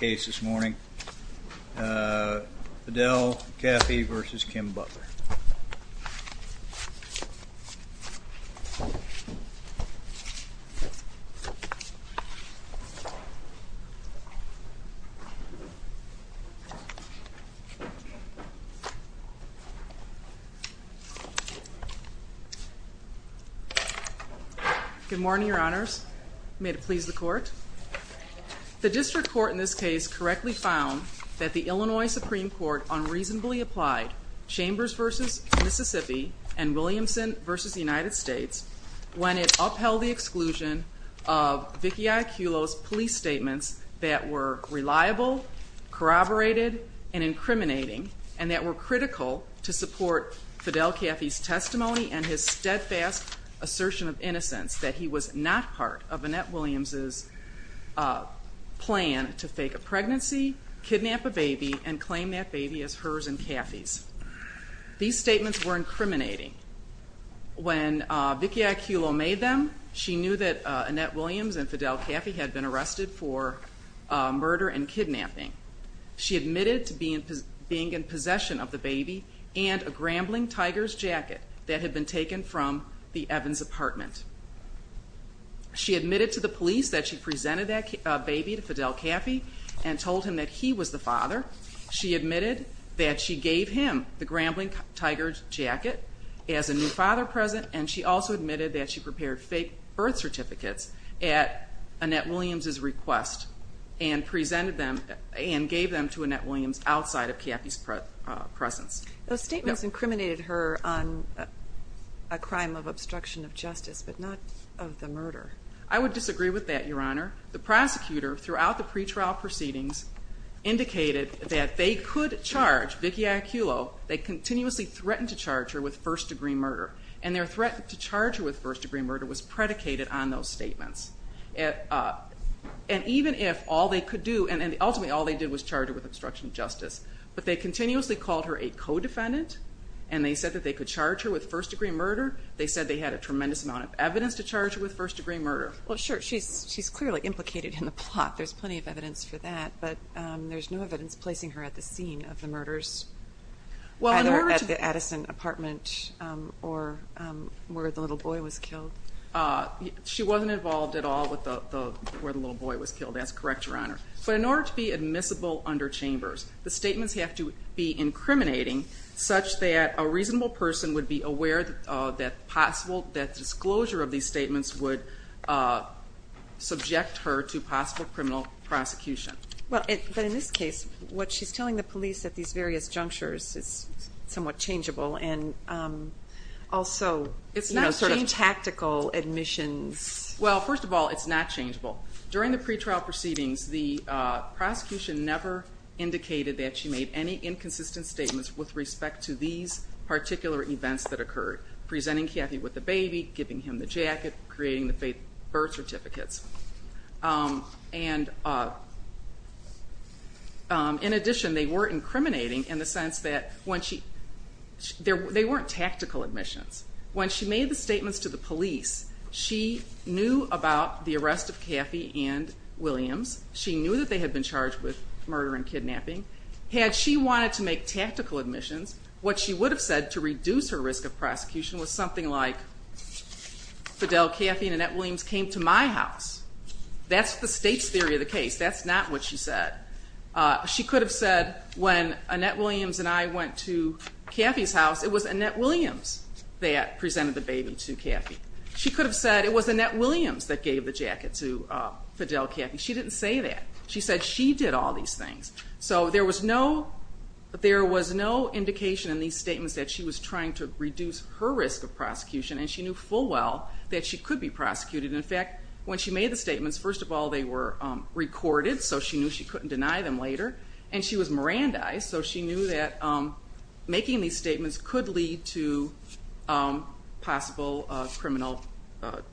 Good morning, your honors. May it please the court. The district court in this case correctly found that the Illinois Supreme Court unreasonably applied Chambers v. Mississippi and Williamson v. United States when it upheld the exclusion of Vicki Iacullo's police statements that were reliable, corroborated, and incriminating and that were critical to support Fidel Caffey's testimony and his steadfast assertion of innocence that he was not part of Annette Williams' plan to fake a pregnancy, kidnap a baby, and claim that baby as hers and Caffey's. These statements were incriminating. When Vicki Iacullo made them, she knew that Annette Williams and Fidel Caffey had been arrested for murder and kidnapping. She admitted to being in possession of the baby and a grambling tiger's jacket that had been taken from the Evans apartment. She admitted to the police that she presented that baby to Fidel Caffey and told him that he was the father. She admitted that she gave him the grambling tiger's jacket as a new father present and she also admitted that she prepared fake birth certificates at Annette Williams' request and presented them and gave them to Annette Williams outside of Caffey's presence. Those statements incriminated her on a crime of obstruction of justice but not of the murder. I would disagree with that Your Honor. The prosecutor throughout the pretrial proceedings indicated that they could charge Vicki Iacullo. They continuously threatened to charge her with first degree murder and their threat to charge her with first degree murder was predicated on those statements. And even if all they could do, and ultimately all they did was charge her with obstruction of justice, but they continuously called her a co-defendant and they said that they could charge her with first degree murder, they said they had a tremendous amount of evidence to charge her with first degree murder. Well sure, she's clearly implicated in the plot. There's plenty of evidence for that but there's no evidence placing her at the scene of the murders at the Addison apartment or where the little boy was killed. She wasn't involved at all where the little boy was killed, that's correct Your Honor. But in order to be admissible under Chambers, the statements have to be incriminating such that a reasonable person would be aware that the disclosure of these statements would subject her to possible criminal prosecution. But in this case, what she's telling the police at these various junctures is somewhat changeable and also, you know, change tactical admissions. Well first of all, it's not changeable. During the pretrial proceedings, the prosecution never indicated that she made any inconsistent statements with respect to these particular events that occurred. Presenting Kathy with the baby, giving him the jacket, creating the birth certificates. And in addition, they were incriminating in the sense that they weren't tactical admissions. When she made the statements to the police, she knew about the arrest of Kathy and Williams. She knew that they had been charged with murder and kidnapping. Had she wanted to make tactical admissions, what she would have said to reduce her risk of prosecution was something like, Fidel, Kathy, and Annette Williams came to my house. That's the state's theory of the case. That's not what she said. She could have said, when Annette Williams and I went to Kathy's house, it was Annette Williams that presented the baby to Kathy. She could have said it was Annette Williams that gave the jacket to Fidel, Kathy. She didn't say that. She said she did all these things. So there was no indication in these statements that she was trying to reduce her risk of prosecution and she knew full well that she could be prosecuted. In fact, when she made the statements, first of all, they were recorded so she knew she couldn't deny them later. And she was Mirandized, so she knew that making these statements could lead to possible criminal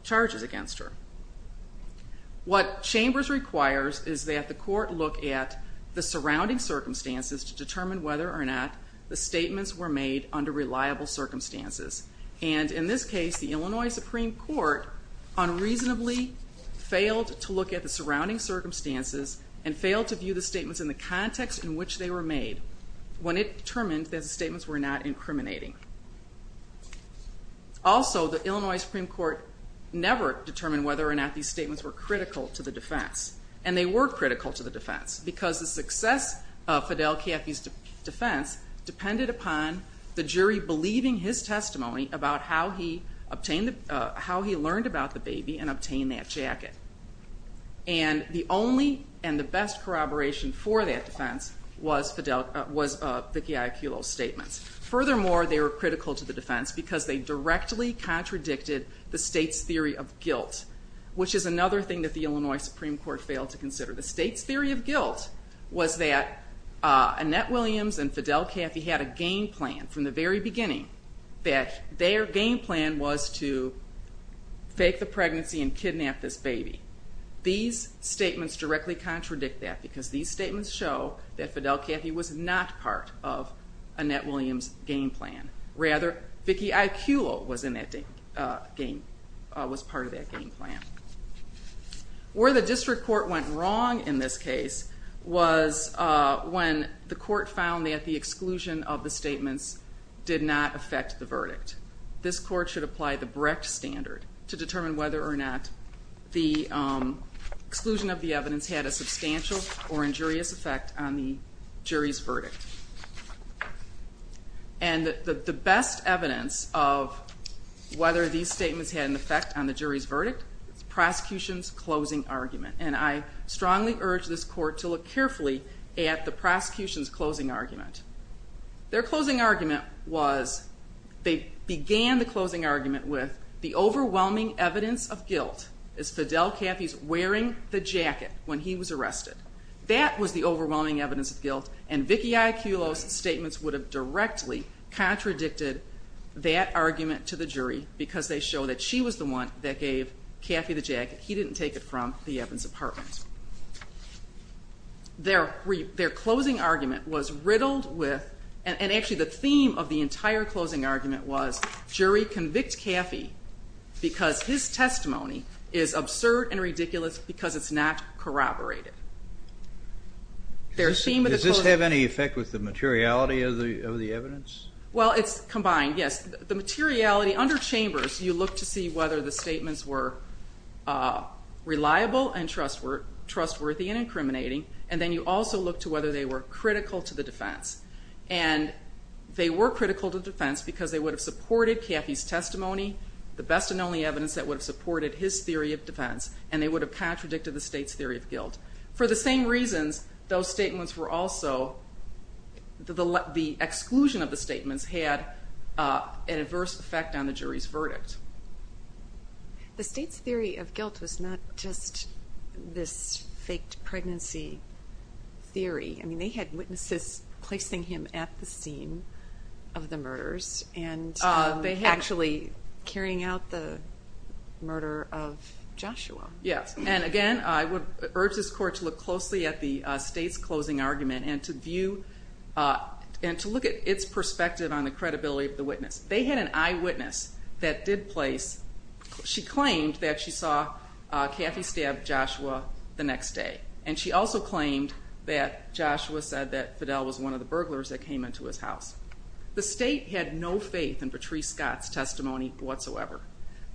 charges against her. What Chambers requires is that the court look at the surrounding circumstances to determine whether or not the statements were made under reliable circumstances. And in this case, the Illinois Supreme Court unreasonably failed to look at the surrounding circumstances and failed to view the statements in the context in which they were made when it determined that the statements were not incriminating. Also, the Illinois Supreme Court never determined whether or not these statements were critical to the defense. And they were critical to the defense because the success of Fidel, Kathy's defense depended upon the jury believing his testimony about how he learned about the baby and obtained that jacket. And the only and the best corroboration for that defense was Vicki Iacullo's statements. Furthermore, they were critical to the defense because they directly contradicted the state's theory of guilt, which is another thing that the Illinois Supreme Court failed to consider. The state's theory of guilt was that Annette Williams and Fidel Kathy had a game plan from the very beginning that their game plan was to fake the pregnancy and kidnap this baby. These statements directly contradict that because these statements show that Fidel Kathy was not part of Annette Williams' game plan. Rather, Vicki Iacullo was in that game, was part of that game plan. Where the district court went wrong in this case was when the jury did not affect the verdict. This court should apply the Brecht standard to determine whether or not the exclusion of the evidence had a substantial or injurious effect on the jury's verdict. And the best evidence of whether these statements had an effect on the jury's verdict is the prosecution's closing argument. And I strongly urge this court to look carefully at the prosecution's closing argument. Their closing argument was, they began the closing argument with, the overwhelming evidence of guilt is Fidel Kathy's wearing the jacket when he was arrested. That was the overwhelming evidence of guilt and Vicki Iacullo's statements would have directly contradicted that argument to the jury because they show that she was the one that gave Kathy the jacket. He didn't take it from the Evans apartment. Their closing argument was riddled with, and actually the theme of the entire closing argument was, jury convict Kathy because his testimony is absurd and ridiculous because it's not corroborated. Their theme of the closing argument... Does this have any effect with the materiality of the evidence? Well, it's combined, yes. The materiality, under Chambers you look to see whether the statements were reliable and trustworthy and incriminating and then you also look to whether they were critical to the defense. And they were critical to defense because they would have supported Kathy's testimony, the best and only evidence that would have supported his theory of defense, and they would have contradicted the state's theory of guilt. For the same reasons, those statements were also, the exclusion of the The state's theory of guilt was not just this faked pregnancy theory. I mean, they had witnesses placing him at the scene of the murders and actually carrying out the murder of Joshua. Yes, and again, I would urge this court to look closely at the state's closing argument and to view, and to look at its perspective on the credibility of the witness. They had an eyewitness that did place, she claimed that she saw Kathy stab Joshua the next day. And she also claimed that Joshua said that Fidel was one of the burglars that came into his house. The state had no faith in Patrice Scott's testimony whatsoever.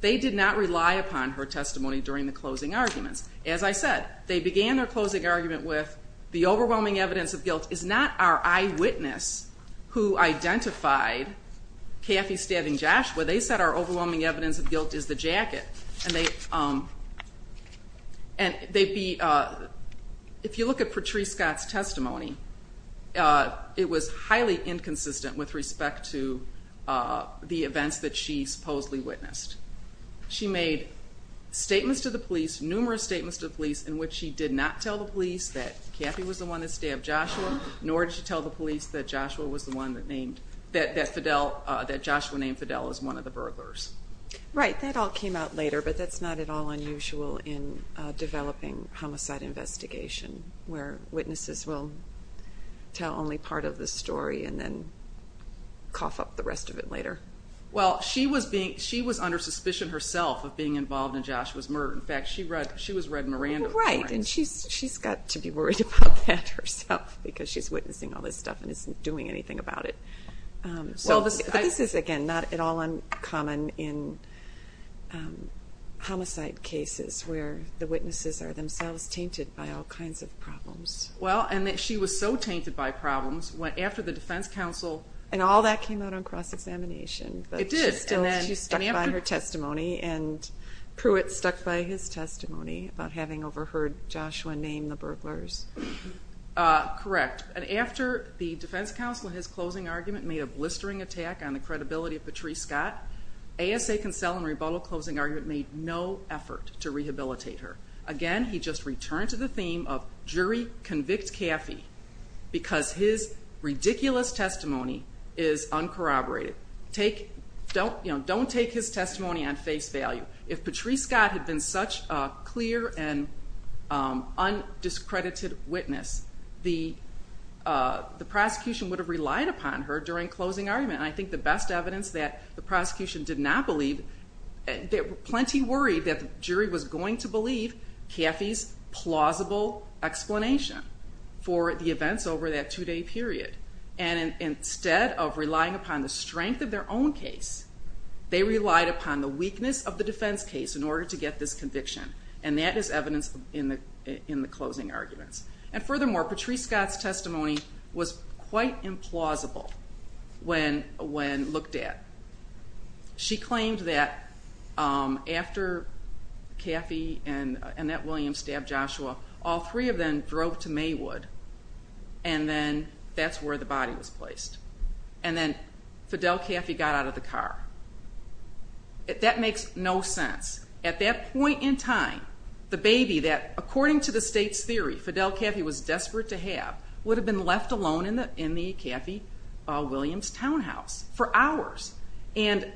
They did not rely upon her testimony during the closing arguments. As I said, they began their closing argument with the overwhelming evidence of guilt is not our eyewitness who identified Kathy stabbing Joshua. They said our overwhelming evidence of guilt is the jacket. And they, if you look at Patrice Scott's testimony, it was highly inconsistent with respect to the events that she supposedly witnessed. She made statements to the police, numerous statements to the police, in which she did not tell the police that Kathy was the one that stabbed Joshua, nor did she tell the police that Joshua was the one that named, that Joshua named Fidel as one of the burglars. Right, that all came out later, but that's not at all unusual in developing homicide investigation, where witnesses will tell only part of the story and then cough up the rest of it later. Well, she was under suspicion herself of being involved in Joshua's murder. In fact, she was Red Miranda. Right, and she's got to be worried about that herself, because she's witnessing all this stuff and isn't doing anything about it. But this is, again, not at all uncommon in homicide cases, where the witnesses are themselves tainted by all kinds of problems. Well, and she was so tainted by problems, after the defense counsel... And all that came out on cross-examination. It did, and then... She stuck by her testimony, and Pruitt stuck by his testimony about having overheard Joshua name the burglars. Correct, and after the defense counsel in his closing argument made a blistering attack on the credibility of Patrice Scott, ASA Consell in rebuttal closing argument made no effort to rehabilitate her. Again, he just returned to the theme of jury convict Caffey, because his ridiculous testimony is uncorroborated. Don't take his testimony. Undiscredited witness. The prosecution would have relied upon her during closing argument, and I think the best evidence that the prosecution did not believe... Plenty worried that the jury was going to believe Caffey's plausible explanation for the events over that two-day period. And instead of relying upon the strength of their own case, they relied upon the weakness of the defense case in order to get this conviction, and that is evidence in the closing arguments. And furthermore, Patrice Scott's testimony was quite implausible when looked at. She claimed that after Caffey and Annette Williams stabbed Joshua, all three of them drove to Maywood, and then that's where the body was placed. And then Fidel Caffey got out of the car. That makes no sense. At that point in time, the baby that, according to the state's theory, Fidel Caffey was desperate to have, would have been left alone in the Caffey-Williams townhouse for hours. And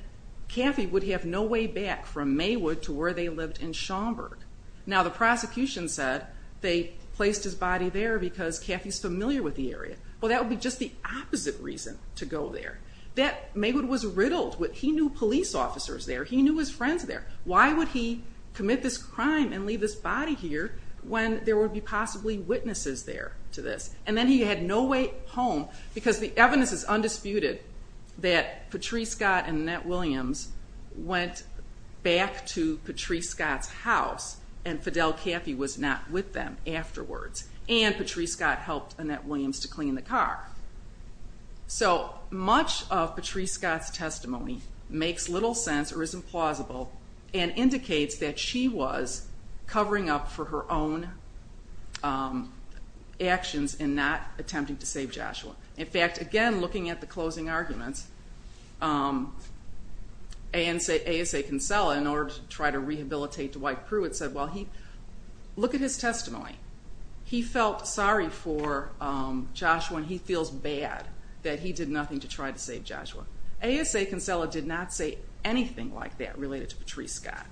Caffey would have no way back from Maywood to where they lived in Schaumburg. Now, the prosecution said they placed his body there because Caffey's familiar with the area. Well, that would be just the opposite reason to go there. Maywood was riddled. He knew police officers there. He knew his crime and leave his body here when there would be possibly witnesses there to this. And then he had no way home because the evidence is undisputed that Patrice Scott and Annette Williams went back to Patrice Scott's house, and Fidel Caffey was not with them afterwards. And Patrice Scott helped Annette Williams to clean the car. So much of Patrice Scott's story is plausible and indicates that she was covering up for her own actions in not attempting to save Joshua. In fact, again, looking at the closing arguments, ASA Kinsella, in order to try to rehabilitate Dwight Pruitt, said, well, look at his testimony. He felt sorry for Joshua, and he feels bad that he did nothing to try to save Joshua. ASA Kinsella did not say anything like that related to Patrice Scott.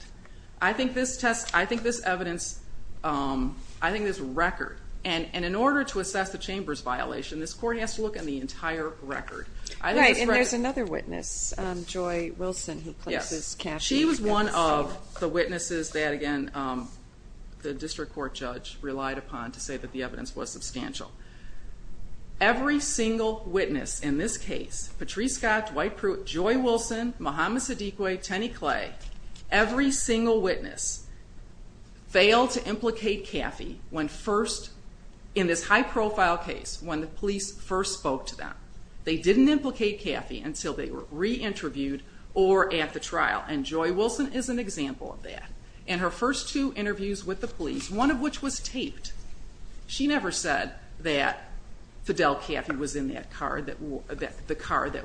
I think this test, I think this evidence, I think this record, and in order to assess the chamber's violation, this court has to look at the entire record. Right, and there's another witness, Joy Wilson, who places Caffey against Steve. She was one of the witnesses that, again, the district court judge relied upon to say that the evidence was substantial. Every single witness in this case, Patrice Scott, Dwight Pruitt, Joy Wilson, Muhammad Sidique, Tenny Clay, every single witness failed to implicate Caffey when first, in this high profile case, when the police first spoke to them. They didn't implicate Caffey until they were re-interviewed or at the trial, and Joy Wilson is an example of that. In her first two interviews with the police, one of which was taped, she never said that Fidel Caffey was in that car, that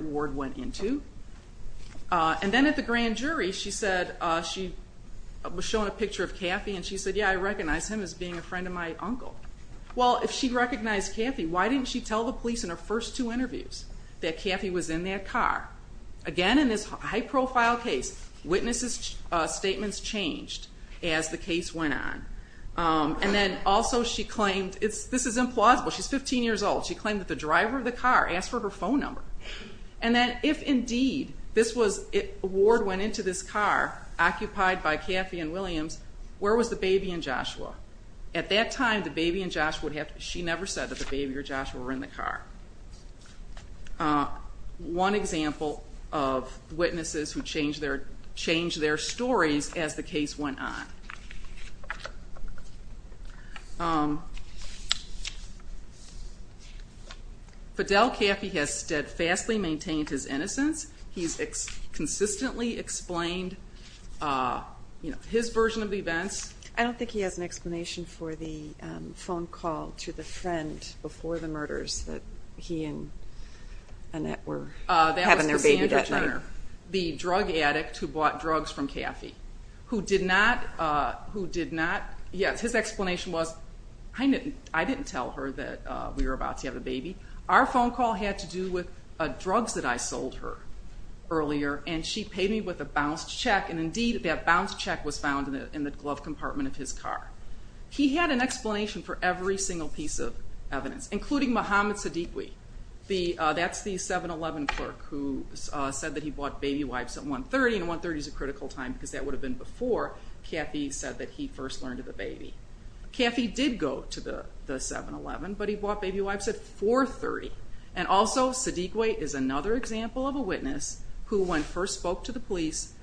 Ward went into. And then at the grand jury, she said, she was shown a picture of Caffey and she said, yeah, I recognize him as being a friend of my uncle. Well, if she recognized Caffey, why didn't she tell the police in her first two interviews that Caffey was in that car? Again, in this high profile case, witnesses' statements changed as the case went on. And then also she claimed, this is implausible, she's 15 years old, she claimed that the driver of the car asked for her phone number. And that if indeed Ward went into this car, occupied by Caffey and Williams, where was the baby and Joshua? At that time, the baby and Joshua, she never said that the baby or Joshua were in the car. One example of witnesses who changed their stories as the case went on. Fidel Caffey has steadfastly maintained his innocence. He's consistently explained his version of the events. I don't think he has an explanation for the phone call to the friend before the murders that he and Annette were having their baby that night. That was Cassandra Jenner, the drug addict who bought drugs from Caffey, who did not, yes, his explanation was, I didn't tell her that we were about to have a baby. Our phone call had to do with drugs that I sold her earlier, and she paid me with a bounced check, and indeed that bounced check was found in the glove compartment of his car. He had an explanation for every single piece of evidence, including Mohammed Sadiqui, that's the 7-11 clerk who said that he bought baby wipes at 1-30, and 1-30 is a critical time because that would have been before Caffey said that he first learned of the baby. Caffey did go to the 7-11, but he bought baby wipes at 4-30, and also Sadiqui is another example of a witness who, when first spoke to the police,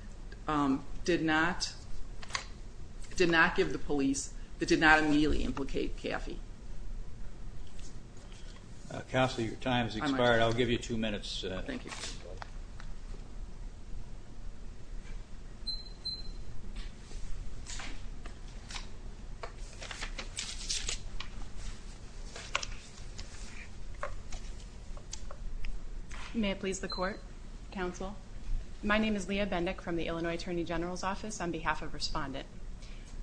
did not give the police, did not immediately implicate Caffey. Counselor, your time has expired. I'll give you two minutes. Thank you. May it please the Court, Counsel. My name is Leah Bendick from the Illinois Attorney General's Office on behalf of Respondent.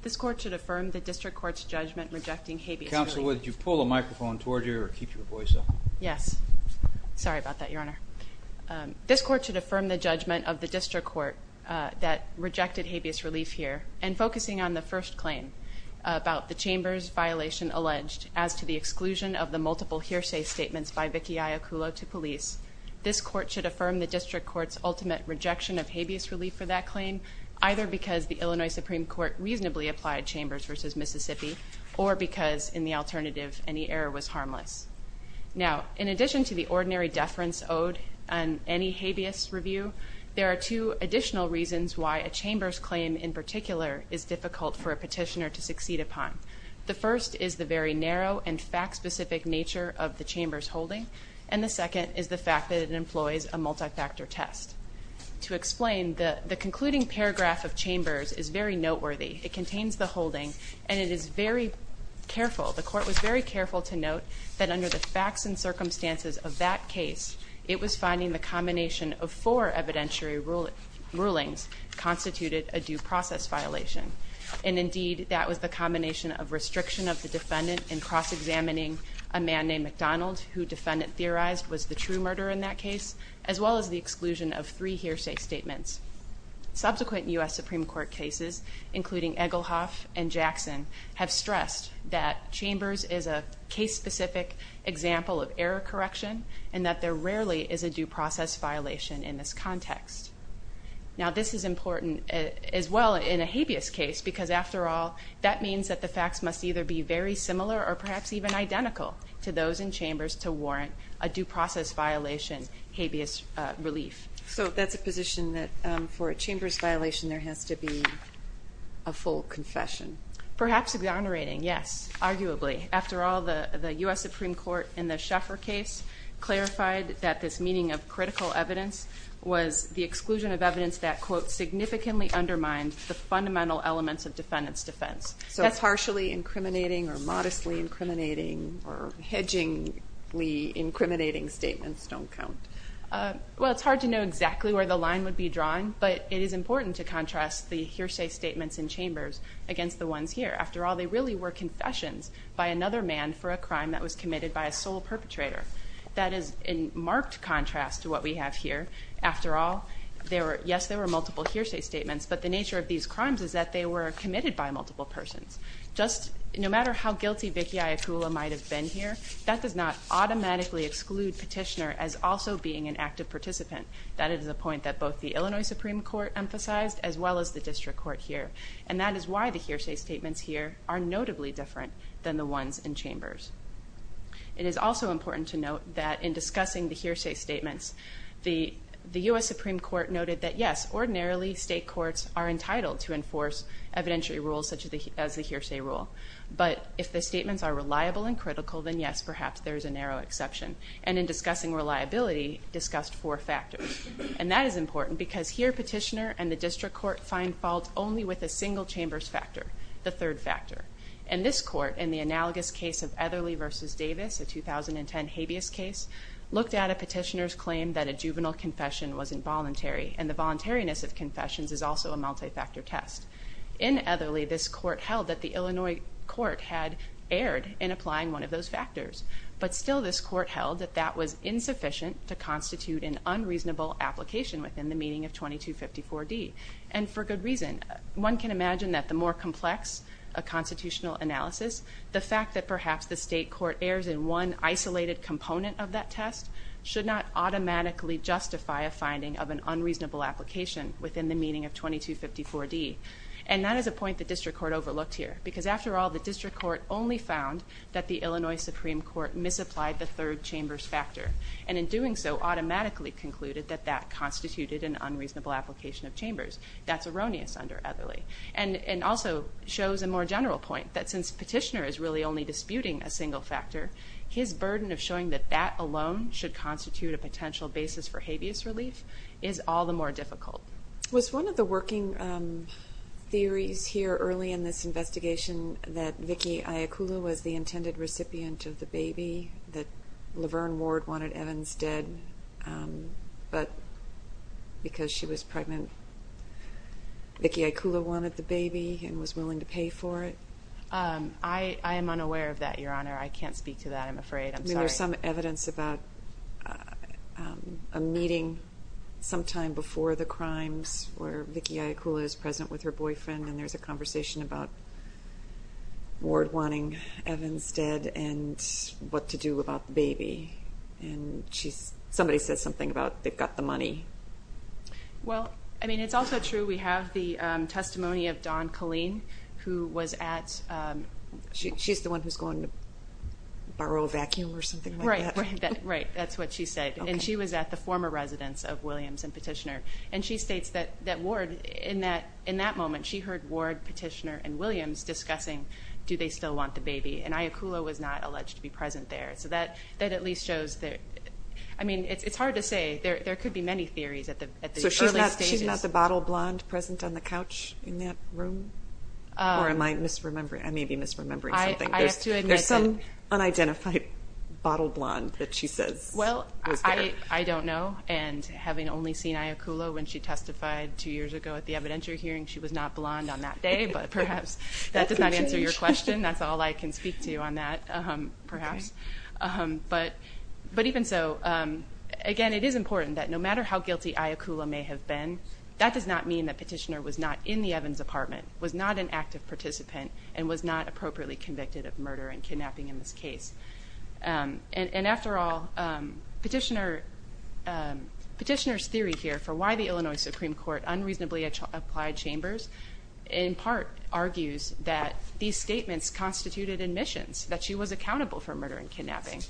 This Court should affirm the District Court's judgment rejecting habeas. Counsel, would you pull the microphone toward you or keep your voice up? Yes. Sorry about that, Your Honor. This Court should affirm the judgment of the District Court that rejected habeas relief here, and focusing on the first claim about the Chambers violation alleged as to the exclusion of the multiple hearsay statements by Vicki Iacullo to police, this Court should affirm the District Court's ultimate rejection of habeas relief for that claim, either because the Illinois Supreme Court reasonably applied Chambers v. Mississippi, or because, in the alternative, any error was harmless. Now, in addition to the ordinary deference owed on any habeas review, there are two additional reasons why a Chambers claim in particular is difficult for a petitioner to succeed upon. The first is the very narrow and fact-specific nature of the Chambers holding, and the second is the fact that it employs a multi-factor test. To explain, the concluding paragraph of Chambers is very noteworthy. It contains the holding, and it is very careful, the Court was very careful to note that under the facts and circumstances of that case, it was finding the combination of four evidentiary rulings constituted a due process violation. And indeed, that was the combination of restriction of the defendant in cross-examining a man named McDonald, who defendant theorized was the true murderer in that case, as well as the exclusion of three hearsay statements. Subsequent U.S. Supreme Court cases, including Egelhoff and Jackson, have stressed that Chambers is a case-specific example of error correction, and that there rarely is a due process violation in this context. Now, this is important as well in a habeas case, because after all, that means that the facts must either be very similar or perhaps even identical to those in Chambers to warrant a due process violation habeas relief. So that's a position that for a Chambers violation, there has to be a full confession? Perhaps exonerating, yes, arguably. After all, the U.S. Supreme Court in the Sheffer case clarified that this meeting of critical evidence was the exclusion of evidence that quote, significantly undermined the fundamental elements of defendant's defense. So partially incriminating or modestly incriminating or hedgingly incriminating statements don't count. Well, it's hard to know exactly where the line would be drawn, but it is important to contrast the hearsay statements in Chambers against the ones here. After all, they really were confessions by another man for a crime that was committed by a sole perpetrator. That is in marked contrast to what we have here. After all, yes, there were multiple hearsay statements, but the nature of these crimes is that they were committed by multiple persons. No matter how guilty Vicki Iaculla might have been here, that does not automatically exclude petitioner as also being an active participant. That is a point that both the Illinois Supreme Court emphasized as well as the District Court here. And that is why the hearsay statements here are notably different than the ones in Chambers. It is also important to note that in discussing the hearsay statements, the U.S. Supreme Court noted that yes, ordinarily state courts are entitled to enforce evidentiary rules such as the hearsay rule. But if the statements are reliable and critical, then yes, perhaps there is a narrow exception. And in discussing reliability, discussed four factors. And that is important because here petitioner and the District Court find fault only with a single Chambers factor, the third factor. And this court, in the analogous case of Etherly v. Davis, a 2010 habeas case, looked at a petitioner's claim that a juvenile confession was involuntary, and the voluntariness of confessions is also a multi-factor test. In Etherly, this court held that the Illinois court had erred in applying one of those factors. But still this court held that that was insufficient to constitute an unreasonable application within the meaning of 2254D. And for good reason. One can imagine that the more complex a constitutional analysis, the fact that perhaps the state court errs in one isolated component of that test should not automatically justify a finding of an unreasonable application within the meaning of 2254D. And that is a point the District Court overlooked here. Because after all, the District Court only found that the Illinois Supreme Court misapplied the third Chambers factor. And in doing so, automatically concluded that that constituted an unreasonable application of Chambers. That's erroneous under Etherly. And also shows a more general point that since petitioner is really only disputing a single factor, his burden of showing that that alone should constitute a potential basis for habeas relief is all the more difficult. Was one of the working theories here early in this investigation that Vicki Iaculla was the intended recipient of the baby that Laverne Ward wanted Evans dead, but because she was pregnant, Vicki Iaculla wanted the baby and was willing to pay for it? I am unaware of that, Your Honor. I can't speak to that, I'm afraid. I'm sorry. There's some evidence about a meeting sometime before the crimes where Vicki Iaculla is present with her boyfriend and there's a conversation about Ward wanting Evans dead and what to do about the baby. And somebody says something about they've got the money. Well, I mean, it's also true we have the testimony of Dawn Colleen, who was at, she's the one who's going to borrow a vacuum or something like that. Right, that's what she said. And she was at the former residence of Williams and petitioner. And she states that Ward, in that moment, she heard Ward, petitioner, and Williams discussing do they still want the baby? And Iaculla was not alleged to be present there. So that at least shows that, I mean, it's hard to say. There could be many theories at the early stages. So she's not the bottle blonde present on the couch in that room? Or am I misremembering? I may be misremembering something. I have to admit that There's some unidentified bottle blonde that she says was there. Well, I don't know. And having only seen Iaculla when she testified two years ago at the evidentiary hearing, she was not blonde on that day. But perhaps that does not answer your question. That's all I can speak to on that, perhaps. But even so, again, it is important that no matter how guilty Iaculla may have been, that does not mean that petitioner was not in the participant and was not appropriately convicted of murder and kidnapping in this case. And after all, petitioner's theory here for why the Illinois Supreme Court unreasonably applied chambers in part argues that these statements constituted admissions, that she was accountable for murder and kidnapping.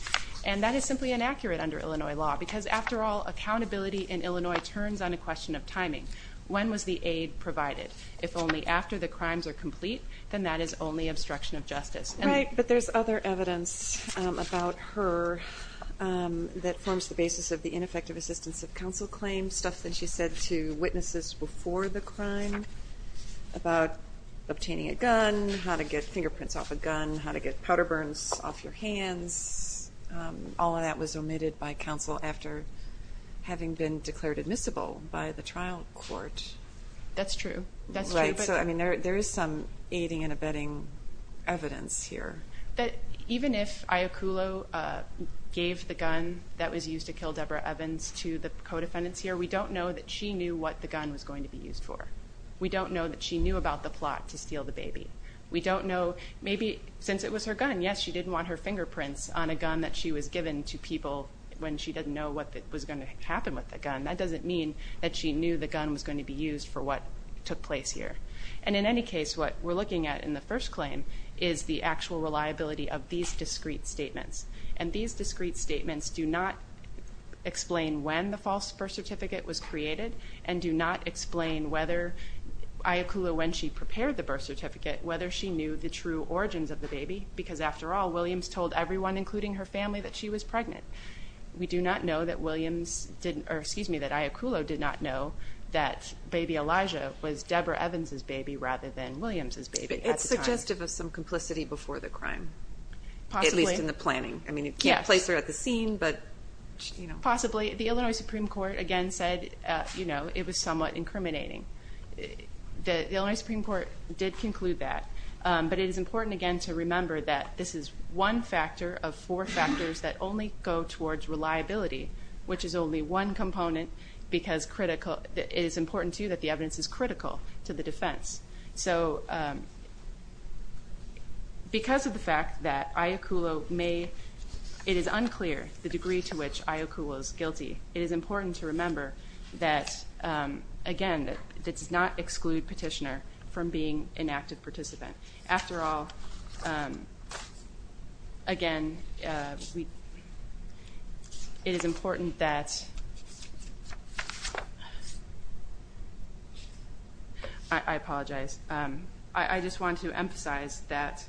And that is simply inaccurate under Illinois law, because after all accountability in Illinois turns on a question of timing. When was the aid provided? If only after the crimes are complete, then that is only obstruction of justice. Right. But there's other evidence about her that forms the basis of the ineffective assistance of counsel claim stuff that she said to witnesses before the crime about obtaining a gun, how to get fingerprints off a gun, how to get powder burns off your hands. All of that was omitted by counsel after having been declared admissible by the trial court. That's true. That's right. So, I mean, there is some aiding and abetting evidence here. That even if Iaculla gave the gun that was used to kill Deborah Evans to the co-defendants here, we don't know that she knew what the gun was going to be used for. We don't know that she knew about the plot to steal the baby. We don't know, maybe since it was her gun, yes, she didn't want her fingerprints on a gun that she was given to people when she didn't know what was going to be used for what took place here. And in any case, what we're looking at in the first claim is the actual reliability of these discrete statements. And these discrete statements do not explain when the false birth certificate was created and do not explain whether Iaculla, when she prepared the birth certificate, whether she knew the true origins of the baby, because after all, Williams told everyone, including her family, that she was pregnant. We do not know that Iaculla did not know that baby Elijah was Deborah Evans' baby rather than Williams' baby at the time. It's suggestive of some complicity before the crime, at least in the planning. I mean, you can't place her at the scene, but... Possibly. The Illinois Supreme Court, again, said it was somewhat incriminating. The Illinois Supreme Court did conclude that. But it is important, again, to remember that this is one factor of four factors that only go towards reliability, which is only one component because critical... It is important, too, that the evidence is critical to the defense. So because of the fact that Iaculla may... It is unclear the degree to which Iaculla is guilty. It is important to remember that, again, that does not exclude petitioner from being an active participant. After all, again, it is important that... I apologize. I just want to emphasize that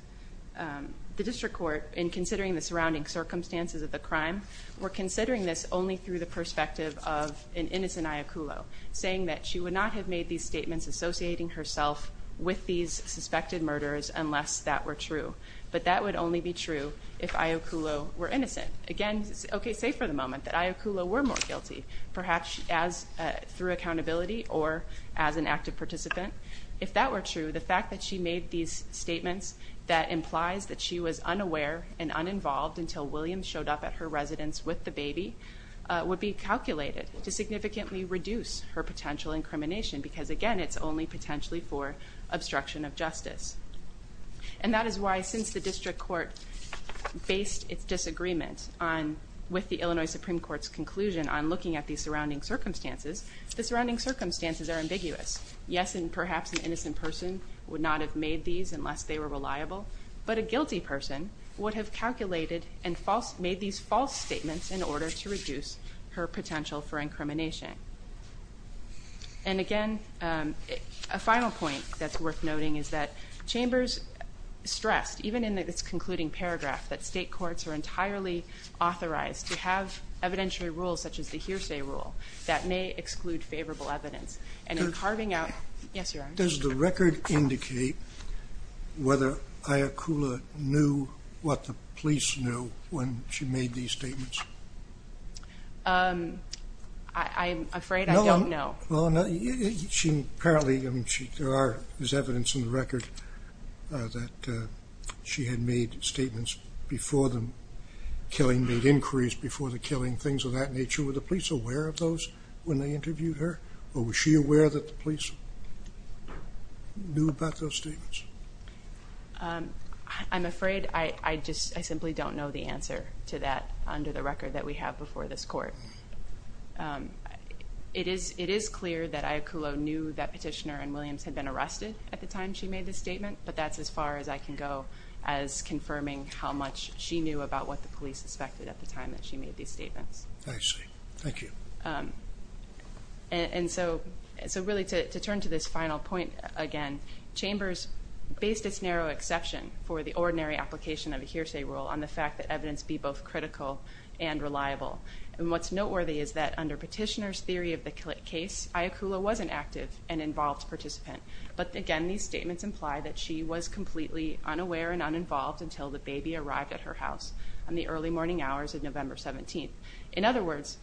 the District Court, in considering the surrounding circumstances of the crime, were considering this only through the perspective of an innocent Iaculla, saying that she would not have made these statements associating herself with these suspected murders unless that were true, but that would only be true if Iaculla were innocent. Again, okay, say for the moment that Iaculla were more guilty, perhaps through accountability or as an active participant. If that were true, the fact that she made these statements that implies that she was unaware and uninvolved until Williams showed up at her residence with the baby would be calculated to reduce her potential incrimination because, again, it's only potentially for obstruction of justice. And that is why, since the District Court based its disagreement with the Illinois Supreme Court's conclusion on looking at these surrounding circumstances, the surrounding circumstances are ambiguous. Yes, and perhaps an innocent person would not have made these unless they were reliable, but a guilty person would have calculated and made these false statements in order to reduce her potential for incrimination. And again, a final point that's worth noting is that chambers stressed, even in this concluding paragraph, that state courts are entirely authorized to have evidentiary rules, such as the hearsay rule, that may exclude favorable evidence. And in carving out... Does the record indicate whether Iaculla knew what the police knew when she made these statements? I'm afraid I don't know. Well, apparently there is evidence in the record that she had made statements before the killing, made inquiries before the killing, things of that nature. Were the police aware of those when they interviewed her, or was she aware that the police knew about those statements? I'm afraid I just simply don't know the answer to that under the record that we have before this court. It is clear that Iaculla knew that Petitioner and Williams had been arrested at the time she made this statement, but that's as far as I can go as confirming how much she knew about what the police suspected at the time that she made these statements. I see. Thank you. And so really, to turn to this final point again, chambers based its narrow exception for the ordinary application of a hearsay rule on the fact that evidence be both critical and reliable. And what's noteworthy is that under Petitioner's theory of the case, Iaculla was an active and involved participant. But again, these statements imply that she was completely unaware and uninvolved until the baby arrived at her house on the early morning hours of November 17th. In other words,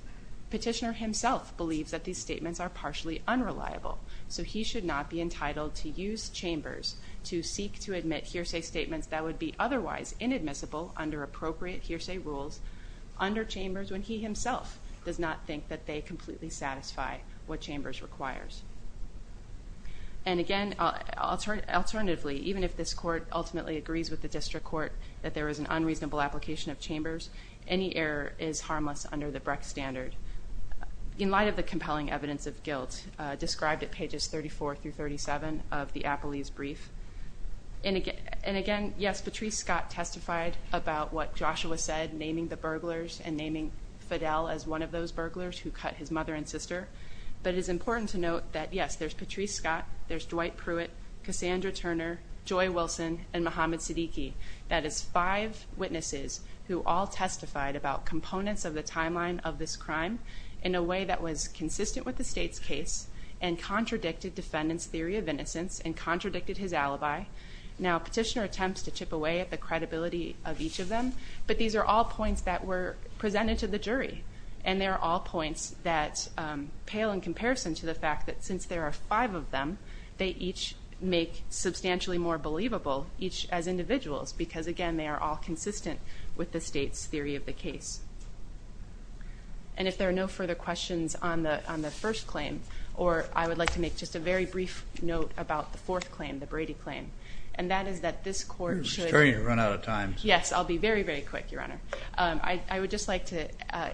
Petitioner himself believes that these statements are partially unreliable, so he should not be entitled to use chambers to seek to admit hearsay statements that would be otherwise inadmissible under appropriate hearsay rules under chambers when he himself does not think that they completely satisfy what chambers requires. And again, alternatively, even if this court ultimately agrees with the district court that there is an unreasonable application of chambers, any error is harmless under the Brecht standard. In light of the compelling evidence of guilt described at pages 34 through 37 of the Appellee's Yes, Patrice Scott testified about what Joshua said, naming the burglars and naming Fidel as one of those burglars who cut his mother and sister. But it is important to note that yes, there's Patrice Scott, there's Dwight Pruitt, Cassandra Turner, Joy Wilson, and Mohammed Siddiqui. That is five witnesses who all testified about components of the timeline of this crime in a way that was consistent with the state's case and contradicted defendant's theory of innocence and contradicted his alibi. Now petitioner attempts to chip away at the credibility of each of them, but these are all points that were presented to the jury. And they're all points that pale in comparison to the fact that since there are five of them, they each make substantially more believable, each as individuals, because again, they are all consistent with the state's theory of the case. And if there are no further questions on the first claim, or I would like to make just a very brief note about the fourth claim, the Brady claim, and that is that this court should... It's starting to run out of time. Yes, I'll be very, very quick, Your Honor. I would just like to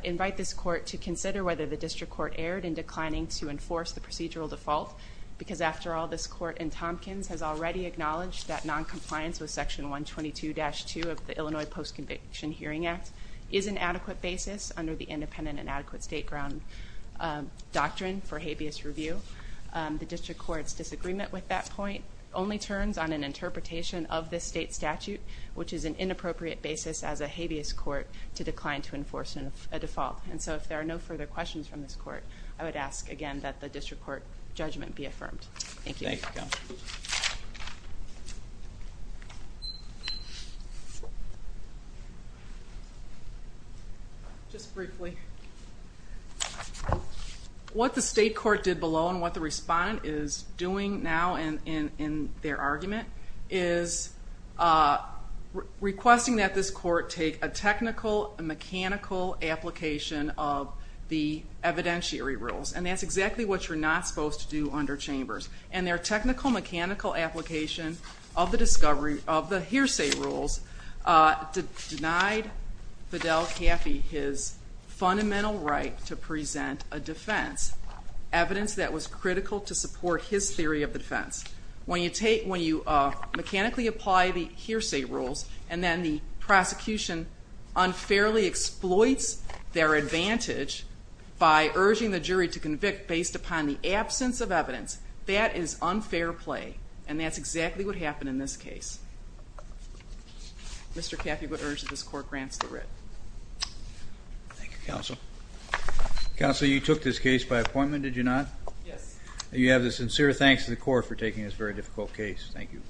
invite this court to consider whether the district court erred in declining to enforce the procedural default, because after all, this court in Tompkins has already acknowledged that non-compliance with section 122-2 of the Illinois Post-Conviction Hearing Act is an adequate basis under the independent and adequate state ground doctrine for habeas review. The district court's disagreement with that point only turns on an interpretation of this state statute, which is an inappropriate basis as a habeas court to decline to enforce a default. And so if there are no further questions from this court, I would ask again that the district court judgment be affirmed. Thank you. Thank you, Your Honor. Just briefly, what the state court did below and what the respondent is doing now in their argument is requesting that this court take a technical and mechanical application of the evidentiary rules, and that's exactly what you're not supposed to do under Chambers. And their technical, mechanical application of the hearsay rules denied Fidel Caffey his fundamental right to present a defense, evidence that was critical to support his theory of the defense. When you mechanically apply the hearsay rules and then the prosecution unfairly exploits their advantage by urging the convict based upon the absence of evidence, that is unfair play, and that's exactly what happened in this case. Mr. Caffey would urge that this court grants the writ. Thank you, counsel. Counsel, you took this case by appointment, did you not? Yes. You have the sincere thanks to the court for taking this very difficult case. Thank you.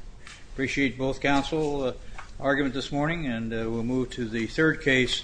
Appreciate both counsel argument this morning and we'll move to the third case.